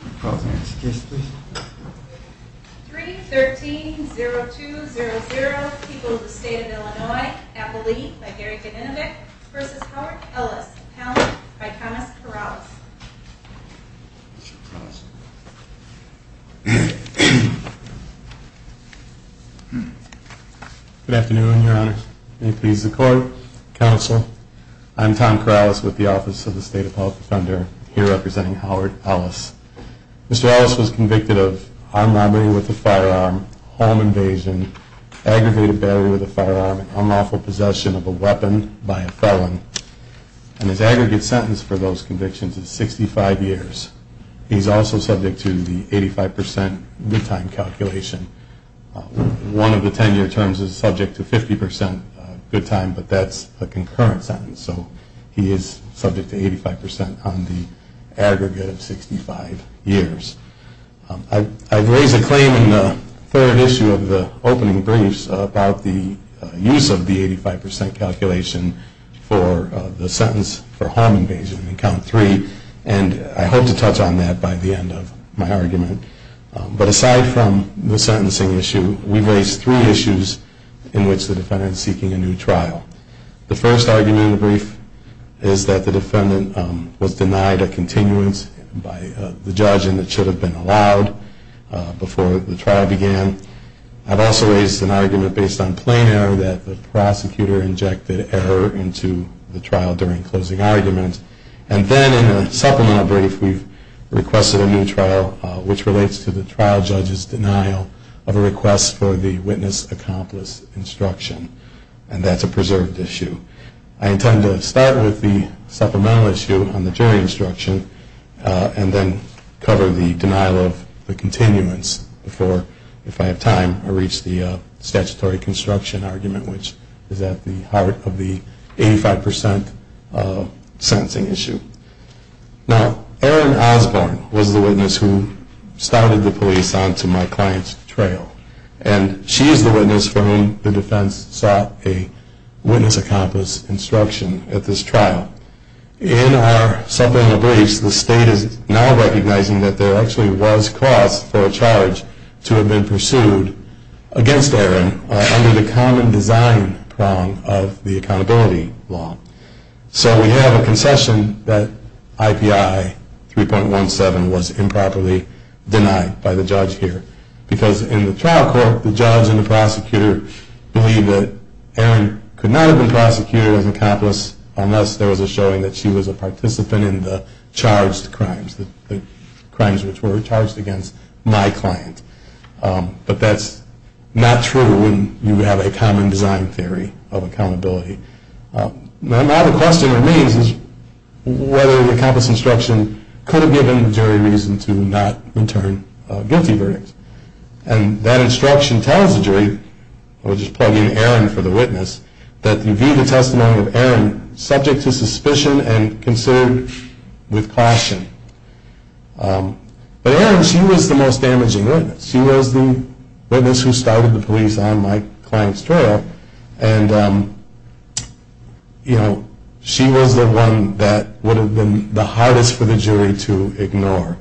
Good afternoon, Your Honor. May it please the Court, Counsel, I'm Tom Corrales with the Office of the State Appellate Defender, here representing Howard Ellis. Mr. Ellis was convicted of armed robbery with a firearm, home invasion, aggravated battery with a firearm, and unlawful possession of a weapon by a felon. And his aggregate sentence for those convictions is 65 years. He is also subject to the 85% good time calculation. One of the 10-year terms is subject to 50% good time, but that's a concurrent sentence, so he is subject to 85% on the aggregate of 65 years. I've raised a claim in the third issue of the opening briefs about the use of the 85% calculation for the sentence for home invasion in Count 3, and I hope to touch on that by the end of my argument. But aside from the sentencing issue, we raised three issues in which the defendant is seeking a new trial. The first argument in the brief is that the defendant was denied a continuance by the judge and it should have been allowed before the trial began. I've also raised an argument based on plain error that the prosecutor injected error into the trial during closing arguments. And then in the supplemental brief, we've requested a new trial which relates to the trial judge's denial of a request for the witness-accomplice instruction, and that's a preserved issue. I intend to start with the supplemental issue on the jury instruction and then cover the denial of the continuance before, if I have time, I reach the statutory construction argument, which is at the heart of the 85% sentencing issue. Now, Erin Osborne was the witness who started the police onto my client's trail, and she is the witness for whom the defense sought a witness-accomplice instruction at this trial. In our supplemental briefs, the state is now recognizing that there actually was cause for a charge to have been pursued against Erin under the common design prong of the accountability law. So we have a concession that IPI 3.17 was improperly denied by the judge here. Because in the trial court, the judge and the prosecutor believe that Erin could not have been prosecuted as an accomplice unless there was a showing that she was a participant in the charged crimes, the crimes which were charged against my client. But that's not true when you have a common design theory of accountability. Now the question remains is whether the accomplice instruction could have given the jury reason to not return guilty verdicts. And that instruction tells the jury, we'll just plug in Erin for the witness, that you view the testimony of Erin subject to suspicion and considered with caution. But Erin, she was the most damaging witness. She was the witness who started the police on my client's trail, and she was the one that would have been the hardest for the jury to ignore.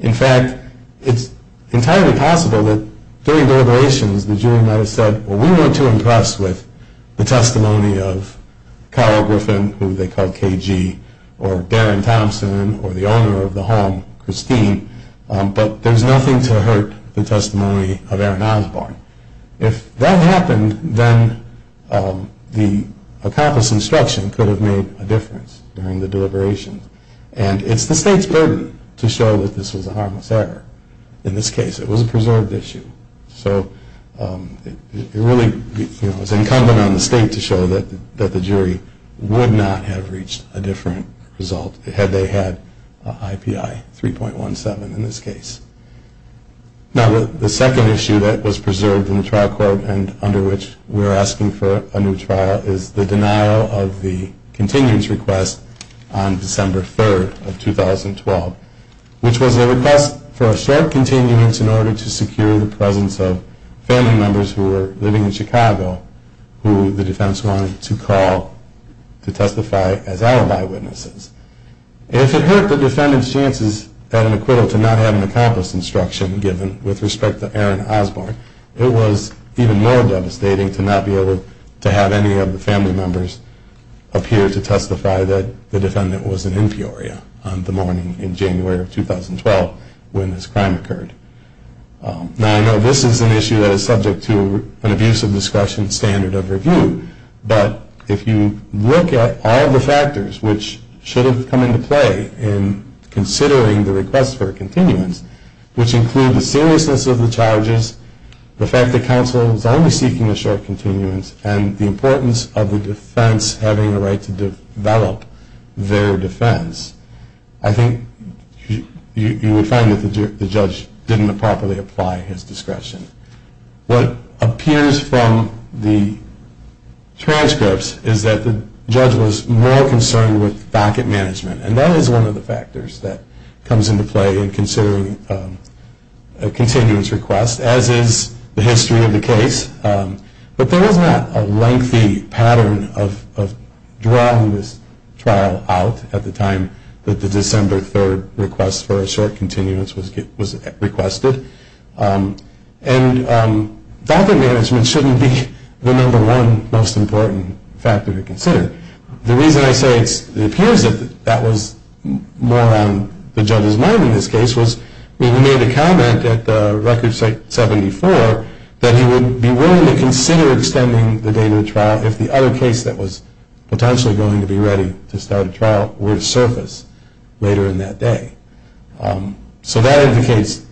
In fact, it's entirely possible that during deliberations the jury might have said, well we weren't too impressed with the testimony of Carl Griffin, who they called KG, or Darren Thompson, or the owner of the home, Christine, but there's nothing to hurt the testimony of Erin Osborne. If that happened, then the accomplice instruction could have made a difference during the deliberations. And it's the state's burden to show that this was a harmless error in this case. It was a preserved issue. So it really is incumbent on the state to show that the jury would not have reached a different result had they had IPI 3.17 in this case. Now the second issue that was preserved in the trial court, and under which we are asking for a new trial, is the denial of the continuance request on December 3rd of 2012, which was a request for a short continuance in order to secure the presence of family members who were living in Chicago, who the defense wanted to call to testify as alibi witnesses. If it hurt the defendant's chances at an acquittal to not have an accomplice instruction given with respect to Erin Osborne, it was even more devastating to not be able to have any of the family members appear to testify that the defendant was an inferior on the morning in January of 2012 when this crime occurred. Now I know this is an issue that is subject to an abuse of discretion standard of review. But if you look at all the factors which should have come into play in considering the request for a continuance, which include the seriousness of the charges, the fact that counsel was only seeking a short continuance, and the importance of the defense having the right to develop their defense, I think you would find that the judge disagreed. He didn't properly apply his discretion. What appears from the transcripts is that the judge was more concerned with docket management, and that is one of the factors that comes into play in considering a continuance request, as is the history of the case. But there was not a lengthy pattern of drawing this trial out at the time that the December 3rd request for a short continuance was requested. And docket management shouldn't be the number one most important factor to consider. The reason I say it appears that that was more on the judge's mind in this case was when he made a comment at Record 74 that he would be willing to consider extending the date of the trial if the other case that was potentially going to be ready to start a trial were to surface later in that day. So that indicates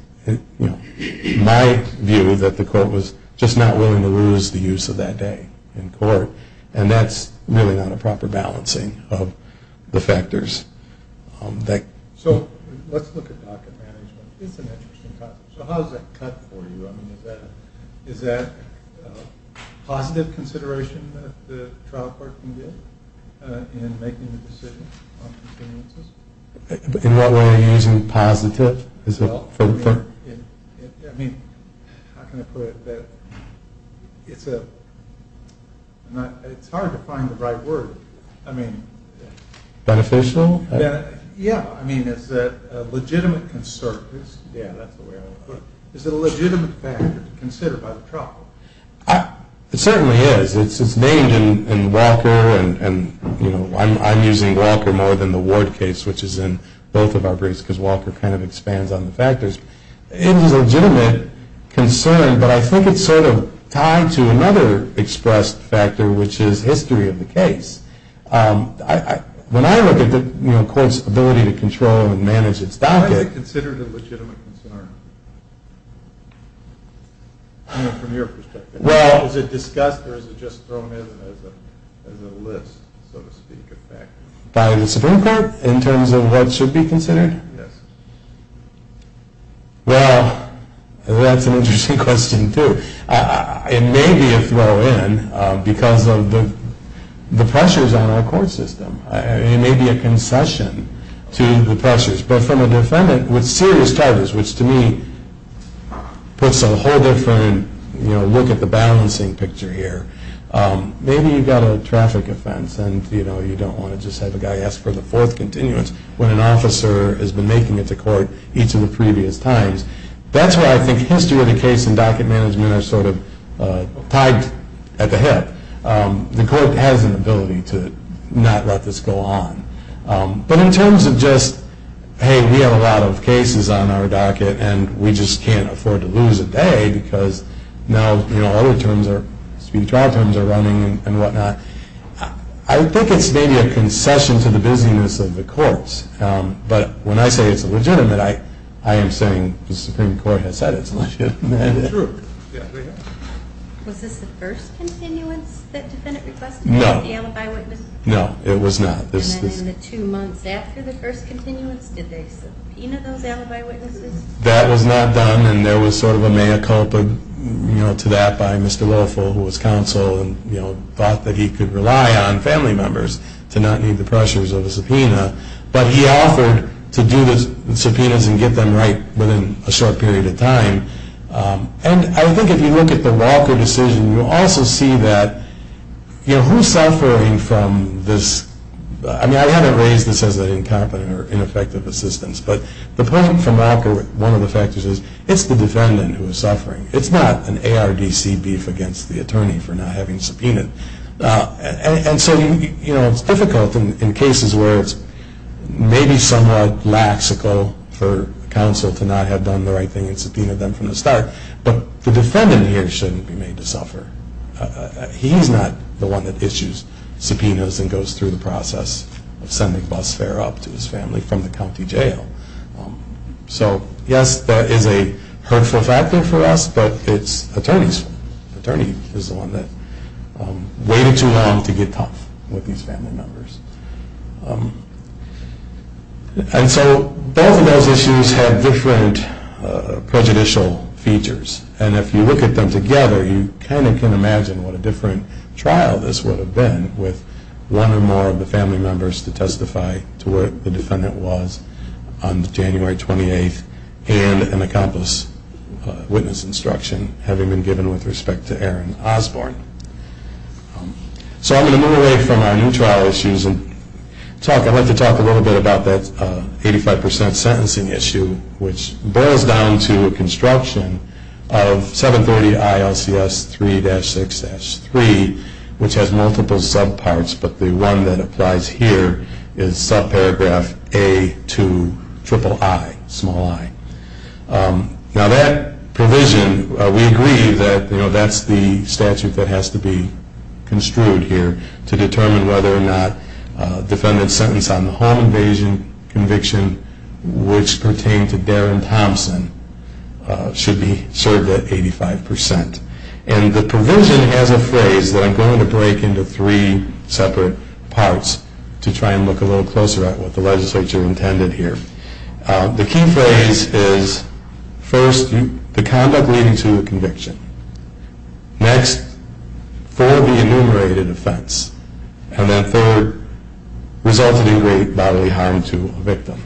my view that the court was just not willing to lose the use of that day in court, and that's really not a proper balancing of the factors. So let's look at docket management. It's an interesting concept. So how does that cut for you? I mean, is that positive consideration that the trial department did in making the decision on continuances? In what way are you using positive? I mean, how can I put it? It's hard to find the right word. Beneficial? Yeah. I mean, is that a legitimate concern? Yeah, that's the way I would put it. Is it a legitimate factor to consider by the trial department? It certainly is. It's named in Walker, and I'm using Walker more than the Ward case, which is in both of our briefs, because Walker kind of expands on the factors. It is a legitimate concern, but I think it's sort of tied to another expressed factor, which is history of the case. When I look at the court's ability to control and manage its docket... Why is it considered a legitimate concern from your perspective? Is it discussed, or is it just thrown in as a list, so to speak? By the Supreme Court in terms of what should be considered? Yes. Well, that's an interesting question, too. It may be a throw-in because of the pressures on our court system. It may be a concession to the pressures. But from a defendant with serious charges, which to me puts a whole different look at the balancing picture here, maybe you've got a traffic offense and you don't want to just have a guy ask for the fourth continuance when an officer has been making it to court each of the previous times. That's why I think history of the case and docket management are sort of tied at the hip. The court has an ability to not let this go on. But in terms of just, hey, we have a lot of cases on our docket and we just can't afford to lose a day because now other terms, speedy trial terms, are running and whatnot, I think it's maybe a concession to the busyness of the courts. But when I say it's legitimate, I am saying the Supreme Court has said it's legitimate. True. Was this the first continuance that defendant requested? No. Was there an alibi witness? No, it was not. And then in the two months after the first continuance, did they subpoena those alibi witnesses? That was not done. And there was sort of a mea culpa to that by Mr. Woelfel, who was counsel and thought that he could rely on family members to not need the pressures of a subpoena. But he offered to do the subpoenas and get them right within a short period of time. And I think if you look at the Walker decision, you'll also see that, you know, who's suffering from this? I mean, I haven't raised this as an incompetent or ineffective assistance, but the point from Walker, one of the factors is it's the defendant who is suffering. It's not an ARDC beef against the attorney for not having subpoenaed. And so, you know, it's difficult in cases where it's maybe somewhat laxical for counsel to not have done the right thing and subpoenaed them from the start. But the defendant here shouldn't be made to suffer. He's not the one that issues subpoenas and goes through the process of sending bus fare up to his family from the county jail. So, yes, that is a hurtful factor for us, but it's attorneys. The attorney is the one that waited too long to get tough with these family members. And so both of those issues have different prejudicial features. And if you look at them together, you kind of can imagine what a different trial this would have been with one or more of the family members to testify to what the defendant was on January 28th and an accomplice witness instruction having been given with respect to Aaron Osborne. So I'm going to move away from our new trial issues. I'd like to talk a little bit about that 85% sentencing issue, which boils down to a construction of 730 ILCS 3-6-3, which has multiple subparts, but the one that applies here is subparagraph A2 triple I, small i. Now that provision, we agree that that's the statute that has to be construed here to determine whether or not a defendant's sentence on the home invasion conviction, which pertained to Darren Thompson, should be served at 85%. And the provision has a phrase that I'm going to break into three separate parts to try and look a little closer at what the legislature intended here. The key phrase is, first, the conduct leading to a conviction. Next, for the enumerated offense. And then third, resulted in great bodily harm to a victim.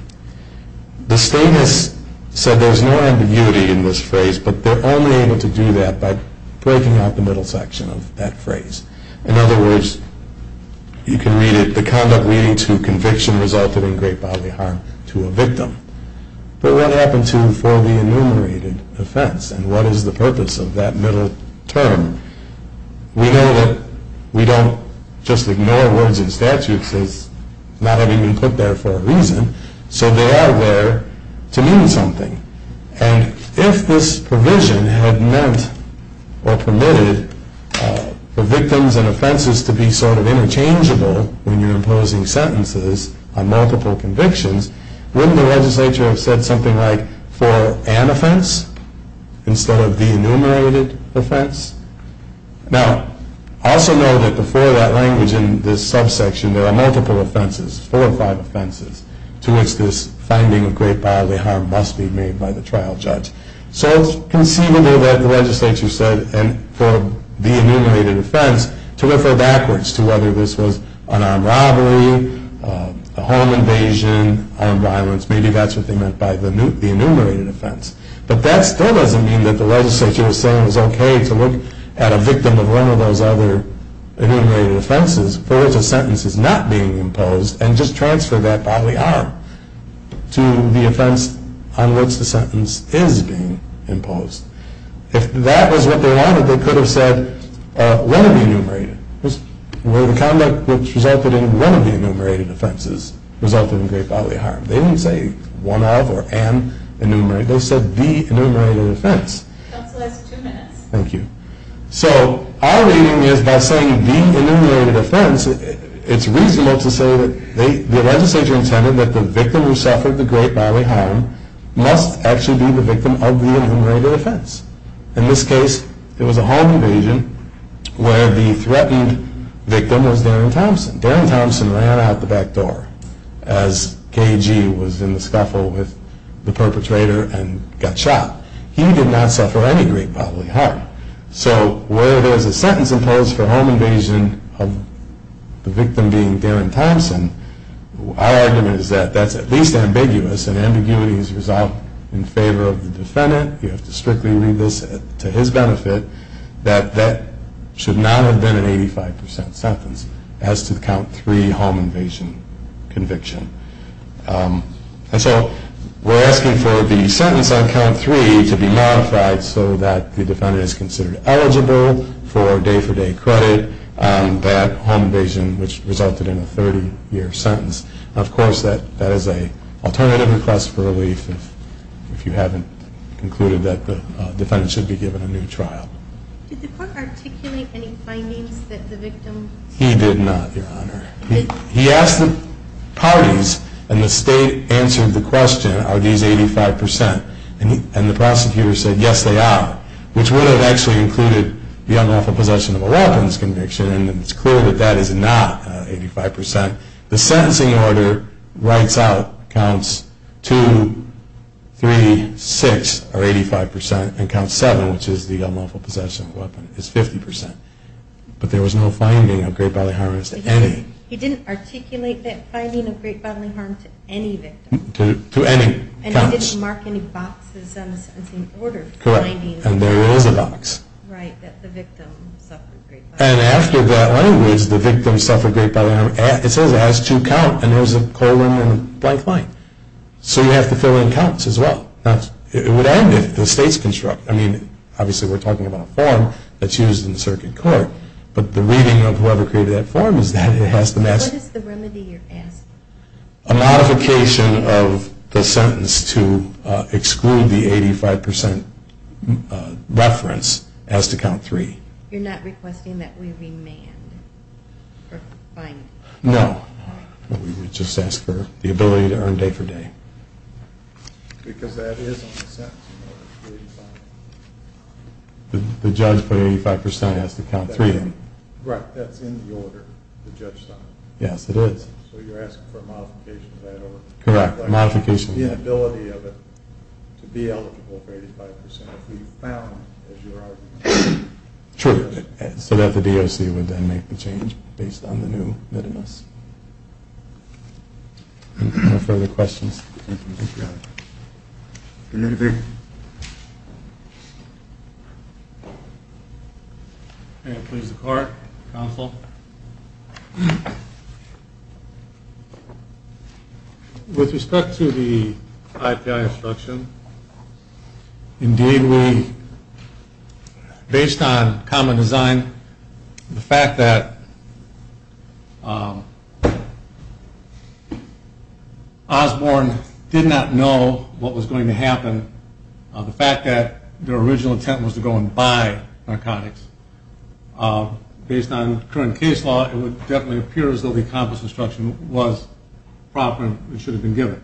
The state has said there's no ambiguity in this phrase, but they're only able to do that by breaking out the middle section of that phrase. In other words, you can read it, the conduct leading to conviction resulted in great bodily harm to a victim. But what happened to for the enumerated offense, and what is the purpose of that middle term? We know that we don't just ignore words in statutes as not having been put there for a reason, so they are there to mean something. And if this provision had meant or permitted for victims and offenses to be sort of interchangeable when you're imposing sentences on multiple convictions, wouldn't the legislature have said something like for an offense instead of the enumerated offense? Now, also know that before that language in this subsection, there are multiple offenses, four or five offenses, to which this finding of great bodily harm must be made by the trial judge. So it's conceivable that the legislature said for the enumerated offense to refer backwards to whether this was an armed robbery, a home invasion, armed violence, maybe that's what they meant by the enumerated offense. But that still doesn't mean that the legislature is saying it's okay to look at a victim of one of those other enumerated offenses for which a sentence is not being imposed and just transfer that bodily harm to the offense on which the sentence is being imposed. If that was what they wanted, they could have said one of the enumerated. The conduct which resulted in one of the enumerated offenses resulted in great bodily harm. They didn't say one of or an enumerated. They said the enumerated offense. That's the last two minutes. Thank you. So our reading is by saying the enumerated offense, it's reasonable to say that the legislature intended that the victim who suffered the great bodily harm must actually be the victim of the enumerated offense. In this case, it was a home invasion where the threatened victim was Darren Thompson. Darren Thompson ran out the back door as KG was in the scuffle with the perpetrator and got shot. He did not suffer any great bodily harm. So where there's a sentence imposed for home invasion of the victim being Darren Thompson, our argument is that that's at least ambiguous, and ambiguity is resolved in favor of the defendant. You have to strictly read this to his benefit that that should not have been an 85% sentence as to the count three home invasion conviction. And so we're asking for the sentence on count three to be modified so that the defendant is considered eligible for day-for-day credit. That home invasion, which resulted in a 30-year sentence, of course, that is an alternative request for relief if you haven't concluded that the defendant should be given a new trial. Did the court articulate any findings that the victim? He did not, Your Honor. He asked the parties, and the state answered the question, are these 85%? And the prosecutor said, yes, they are, which would have actually included the unlawful possession of a weapon's conviction, and it's clear that that is not 85%. The sentencing order writes out counts two, three, six are 85%, and count seven, which is the unlawful possession of a weapon, is 50%. But there was no finding of great bodily harm as to any. He didn't articulate that finding of great bodily harm to any victim. To any. And he didn't mark any boxes on the sentencing order. Correct. And there is a box. Right, that the victim suffered great bodily harm. And after that language, the victim suffered great bodily harm, it says it has to count, and there's a colon and a blank line. So you have to fill in counts as well. It would end if the states construct. I mean, obviously we're talking about a form that's used in the circuit court, but the reading of whoever created that form is that it has to match. What is the remedy you're asking? A modification of the sentence to exclude the 85% reference has to count three. You're not requesting that we remand? No. We would just ask for the ability to earn day for day. Because that is on the sentencing order. The judge put 85% has to count three in. Right, that's in the order the judge signed. Yes, it is. So you're asking for a modification of that order? Correct, modification. The ability of it to be eligible for 85% if we found it, as you're arguing. True, so that the DOC would then make the change based on the new litmus. Any further questions? Thank you. Is there anything? Thank you. May it please the court, counsel. With respect to the IPI instruction, indeed we, based on common design, the fact that Osborne did not know what was going to happen, the fact that their original intent was to go and buy narcotics, based on current case law, it would definitely appear as though the accomplished instruction was proper and should have been given.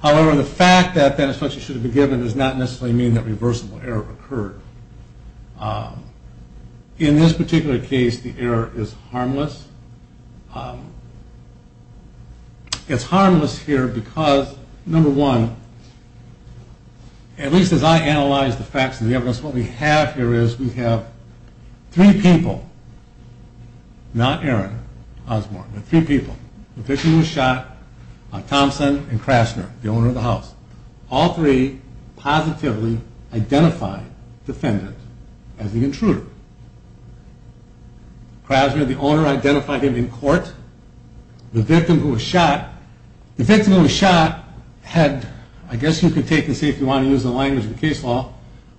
However, the fact that that instruction should have been given does not necessarily mean that reversible error occurred. In this particular case, the error is harmless. It's harmless here because, number one, at least as I analyze the facts and the evidence, what we have here is we have three people, not Aaron Osborne, but three people. The victim was shot, Thompson and Krasner, the owner of the house. All three positively identified the defendant as the intruder. Krasner, the owner, identified him in court. The victim who was shot, the victim who was shot had, I guess you could take and see if you want to use the language of the case law,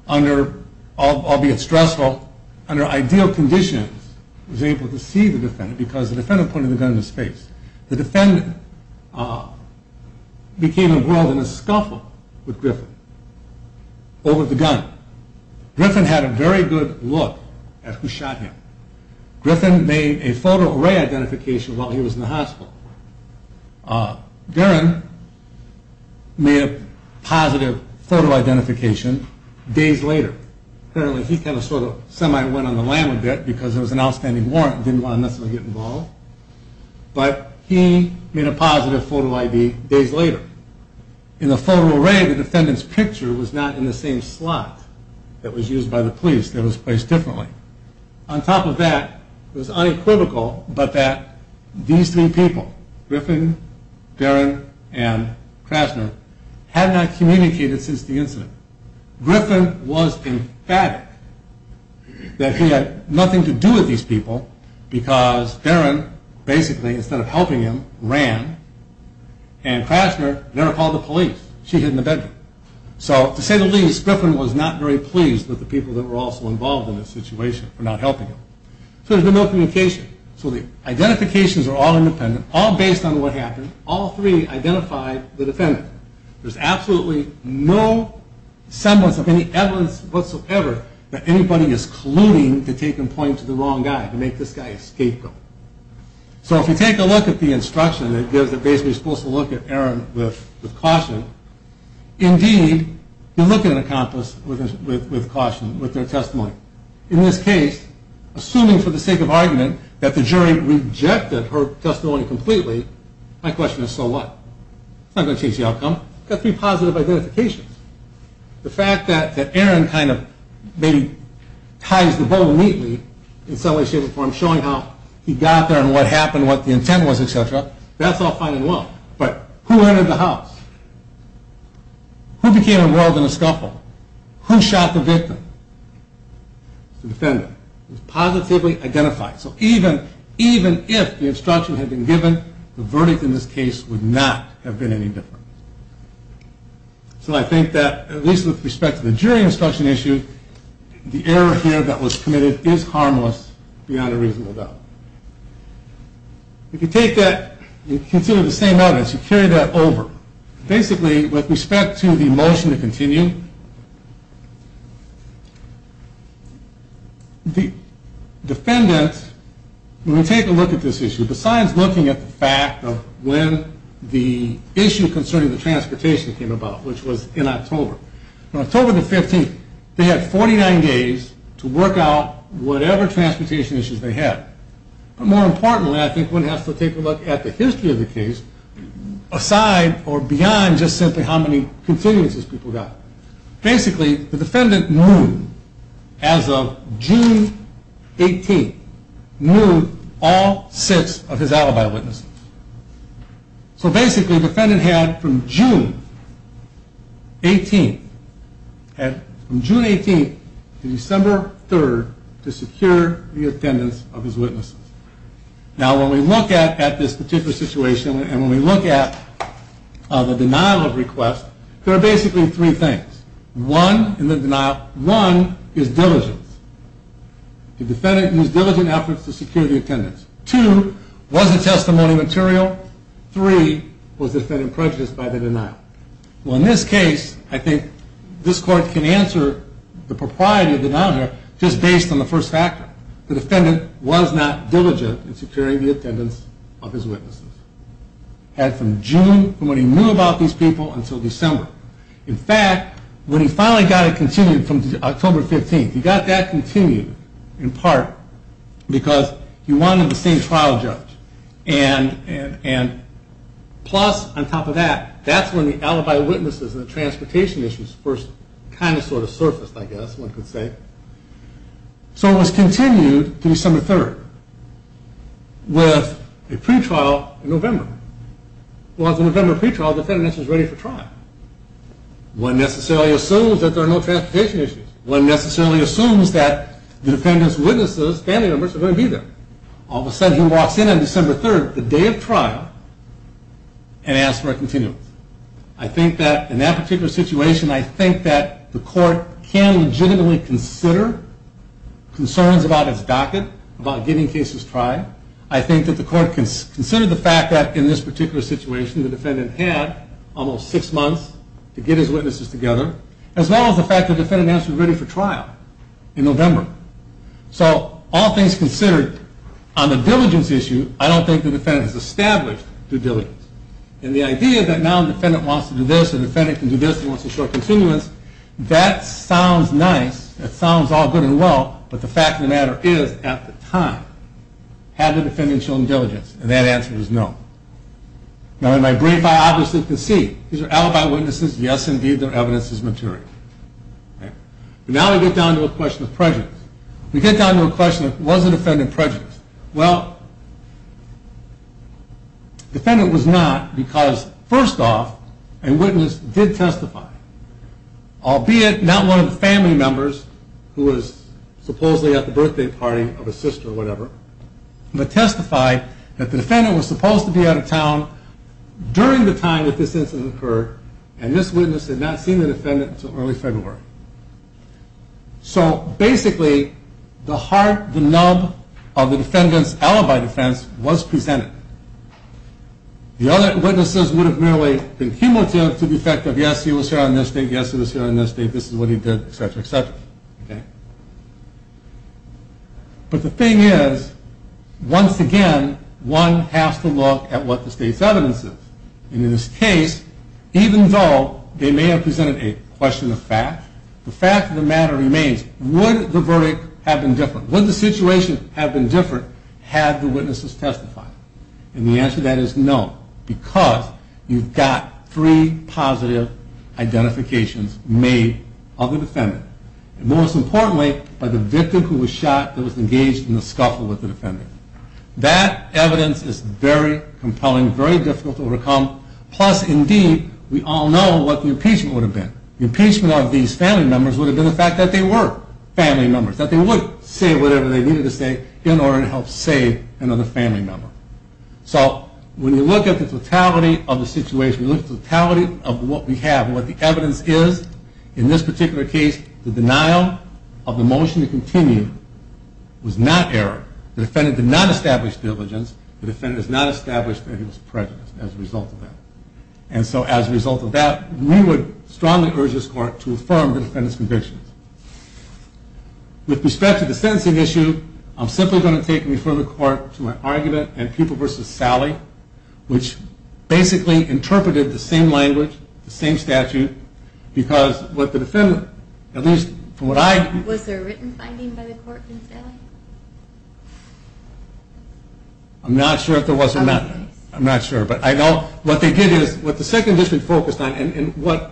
under, albeit stressful, under ideal conditions, was able to see the defendant because the defendant pointed the gun in his face. The defendant became involved in a scuffle with Griffin over the gun. Griffin had a very good look at who shot him. Griffin made a photo array identification while he was in the hospital. Aaron made a positive photo identification days later. Apparently he kind of sort of semi went on the lam a bit because there was an outstanding warrant and didn't want to necessarily get involved. But he made a positive photo ID days later. In the photo array, the defendant's picture was not in the same slot that was used by the police. It was placed differently. On top of that, it was unequivocal that these three people, Griffin, Darren, and Krasner, had not communicated since the incident. Griffin was emphatic that he had nothing to do with these people because Darren, basically, instead of helping him, ran. And Krasner never called the police. She hid in the bedroom. So, to say the least, Griffin was not very pleased with the people that were also involved in this situation for not helping him. So there's been no communication. So the identifications are all independent, all based on what happened. All three identified the defendant. There's absolutely no semblance of any evidence whatsoever that anybody is colluding to take and point to the wrong guy, to make this guy a scapegoat. So if you take a look at the instruction, it gives that basically you're supposed to look at Aaron with caution. Indeed, you look at an accomplice with caution, with their testimony. In this case, assuming for the sake of argument that the jury rejected her testimony completely, my question is, so what? It's not going to change the outcome. You've got three positive identifications. The fact that Aaron kind of maybe ties the bow neatly in some way, shape, or form, showing how he got there and what happened, what the intent was, et cetera, that's all fine and well. But who entered the house? Who became embroiled in the scuffle? Who shot the victim? The defendant. It was positively identified. So even if the instruction had been given, the verdict in this case would not have been any different. So I think that, at least with respect to the jury instruction issue, the error here that was committed is harmless beyond a reasonable doubt. If you take that and consider the same evidence, you carry that over. Basically, with respect to the motion to continue, the defendant, when we take a look at this issue, besides looking at the fact of when the issue concerning the transportation came about, which was in October, from October the 15th, they had 49 days to work out whatever transportation issues they had. But more importantly, I think one has to take a look at the history of the case aside or beyond just simply how many continuances people got. Basically, the defendant moved as of June 18th. He moved all six of his alibi witnesses. So basically, the defendant had from June 18th to December 3rd to secure the attendance of his witnesses. Now, when we look at this particular situation and when we look at the denial of request, there are basically three things. One is diligence. The defendant used diligent efforts to secure the attendance. Two, was the testimony material? Three, was the defendant prejudiced by the denial? Well, in this case, I think this court can answer the propriety of the denial here just based on the first factor. The defendant was not diligent in securing the attendance of his witnesses. Had from June, from when he knew about these people, until December. In fact, when he finally got it continued from October 15th, he got that continued in part because he wanted the same trial judge. And plus, on top of that, that's when the alibi witnesses and the transportation issues first kind of sort of surfaced, I guess one could say. So it was continued December 3rd with a pretrial in November. Well, at the November pretrial, the defendant was ready for trial. One necessarily assumes that there are no transportation issues. One necessarily assumes that the defendant's witnesses, family members, are going to be there. All of a sudden, he walks in on December 3rd, the day of trial, and asks for a continuum. I think that in that particular situation, I think that the court can legitimately consider concerns about his docket, about getting cases tried. I think that the court can consider the fact that in this particular situation, the defendant had almost six months to get his witnesses together, as well as the fact that the defendant asked to be ready for trial in November. So all things considered, on the diligence issue, I don't think the defendant has established the diligence. And the idea that now the defendant wants to do this, the defendant can do this and wants to show continuance, that sounds nice, that sounds all good and well, but the fact of the matter is, at the time, had the defendant shown diligence? And that answer is no. Now, in my brief, I obviously concede. These are alibi witnesses. Yes, indeed, their evidence is maturing. But now we get down to a question of prejudice. We get down to a question of was the defendant prejudiced? Well, the defendant was not because, first off, a witness did testify, albeit not one of the family members, who was supposedly at the birthday party of a sister or whatever, but testified that the defendant was supposed to be out of town during the time that this incident occurred, and this witness had not seen the defendant until early February. So, basically, the heart, the nub of the defendant's alibi defense was presented. The other witnesses would have merely been cumulative to the effect of, yes, he was here on this date, yes, he was here on this date, But the thing is, once again, one has to look at what the state's evidence is. And in this case, even though they may have presented a question of fact, the fact of the matter remains, would the verdict have been different? Would the situation have been different had the witnesses testified? And the answer to that is no, because you've got three positive identifications made of the defendant and, most importantly, by the victim who was shot, who was engaged in the scuffle with the defendant. That evidence is very compelling, very difficult to overcome, plus, indeed, we all know what the impeachment would have been. The impeachment of these family members would have been the fact that they were family members, that they would say whatever they needed to say in order to help save another family member. So, when you look at the totality of the situation, when you look at the totality of what we have, and what the evidence is, in this particular case, the denial of the motion to continue was not error. The defendant did not establish diligence. The defendant did not establish that he was prejudiced as a result of that. And so, as a result of that, we would strongly urge this Court to affirm the defendant's convictions. With respect to the sentencing issue, I'm simply going to take and refer the Court to my argument in People v. Sally, which basically interpreted the same language, the same statute, because what the defendant, at least from what I... Was there a written finding by the Court in Sally? I'm not sure if there was or not. I'm not sure, but I know what they did is, what the Second District focused on and what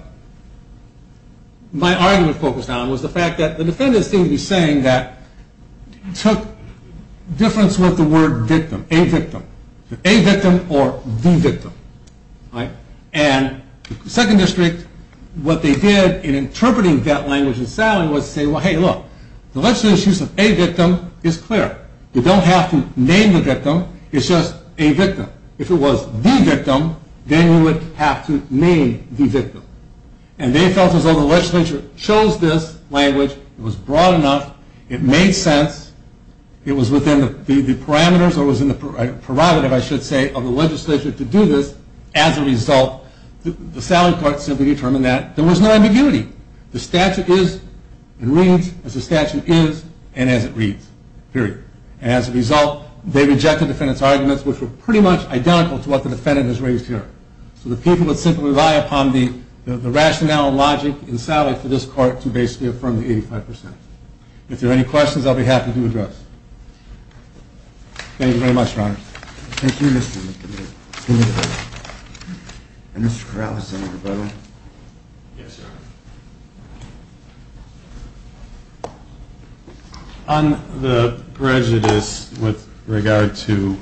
my argument focused on was the fact that the defendant seemed to be saying that it took difference with the word victim, a victim. A victim or the victim, right? And the Second District, what they did in interpreting that language in Sally was say, well, hey, look, the legislative use of a victim is clear. You don't have to name the victim. It's just a victim. If it was the victim, then you would have to name the victim. And they felt as though the legislature chose this language. It was broad enough. It made sense. It was within the parameters or was in the prerogative, I should say, of the legislature to do this. As a result, the Sally Court simply determined that there was no ambiguity. The statute is and reads as the statute is and as it reads, period. As a result, they rejected the defendant's arguments, which were pretty much identical to what the defendant has raised here. So the people would simply rely upon the rationale and logic in Sally for this Court to basically affirm the 85%. If there are any questions, I'll be happy to address. Thank you very much, Your Honor. Thank you, Mr. McDonough. Mr. Corrales, Senator Boehme. Yes, Your Honor. On the prejudice with regard to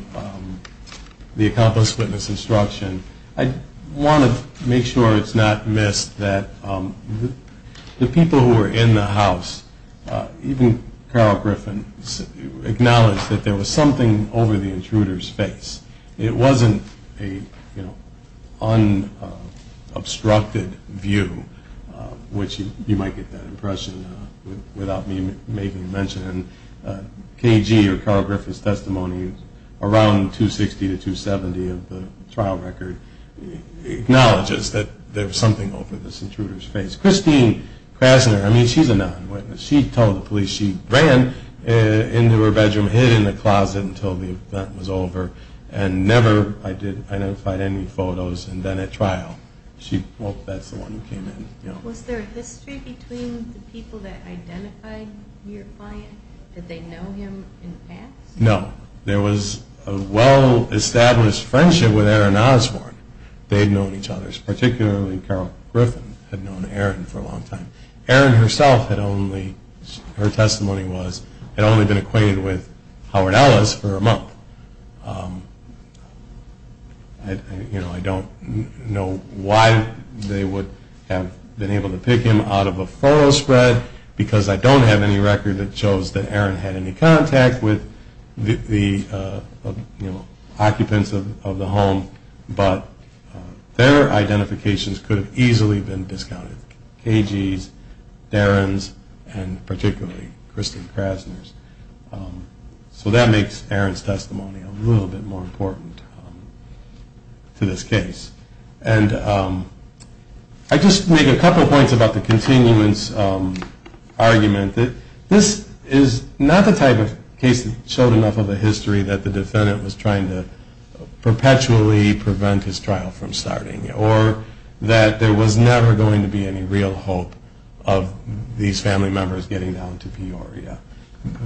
the accomplice witness instruction, I want to make sure it's not missed that the people who were in the house, even Carol Griffin, acknowledged that there was something over the intruder's face. It wasn't an unobstructed view, which you might get that impression without me making mention. KG or Carol Griffin's testimony around 260 to 270 of the trial record acknowledges that there was something over this intruder's face. Christine Krasner, I mean, she's a non-witness. She told the police she ran into her bedroom, hid in the closet until the event was over and never identified any photos and then at trial. She, well, that's the one who came in. Was there a history between the people that identified your client? Did they know him in the past? No. There was a well-established friendship with Aaron Osborne. They had known each other, particularly Carol Griffin had known Aaron for a long time. Aaron herself had only, her testimony was, had only been acquainted with Howard Ellis for a month. I don't know why they would have been able to pick him out of a photo spread because I don't have any record that shows that Aaron had any contact with the occupants of the home, but their identifications could have easily been discounted. KG's, Darren's, and particularly Christine Krasner's. So that makes Aaron's testimony a little bit more important to this case. And I just make a couple points about the continuance argument. This is not the type of case that showed enough of a history that the defendant was trying to perpetually prevent his trial from starting or that there was never going to be any real hope of these family members getting down to Peoria.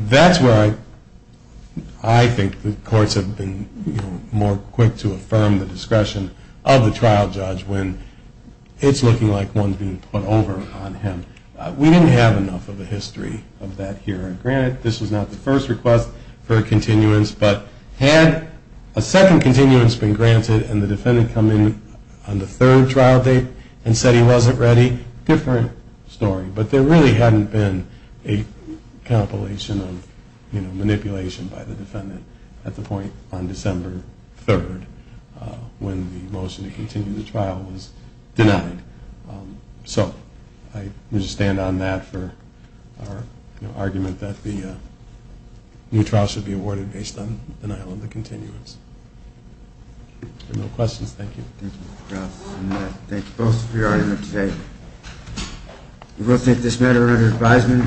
That's where I think the courts have been more quick to affirm the discretion of the trial judge when it's looking like one's being put over on him. We didn't have enough of a history of that here. Granted, this was not the first request for a continuance, but had a second continuance been granted and the defendant come in on the third trial date and said he wasn't ready, different story. But there really hadn't been a compilation of manipulation by the defendant at the point on December 3rd when the motion to continue the trial was denied. So I just stand on that for our argument that the new trial should be awarded based on the denial of the continuance. If there are no questions, thank you. Thank you both for your argument today. We will take this matter under advisement.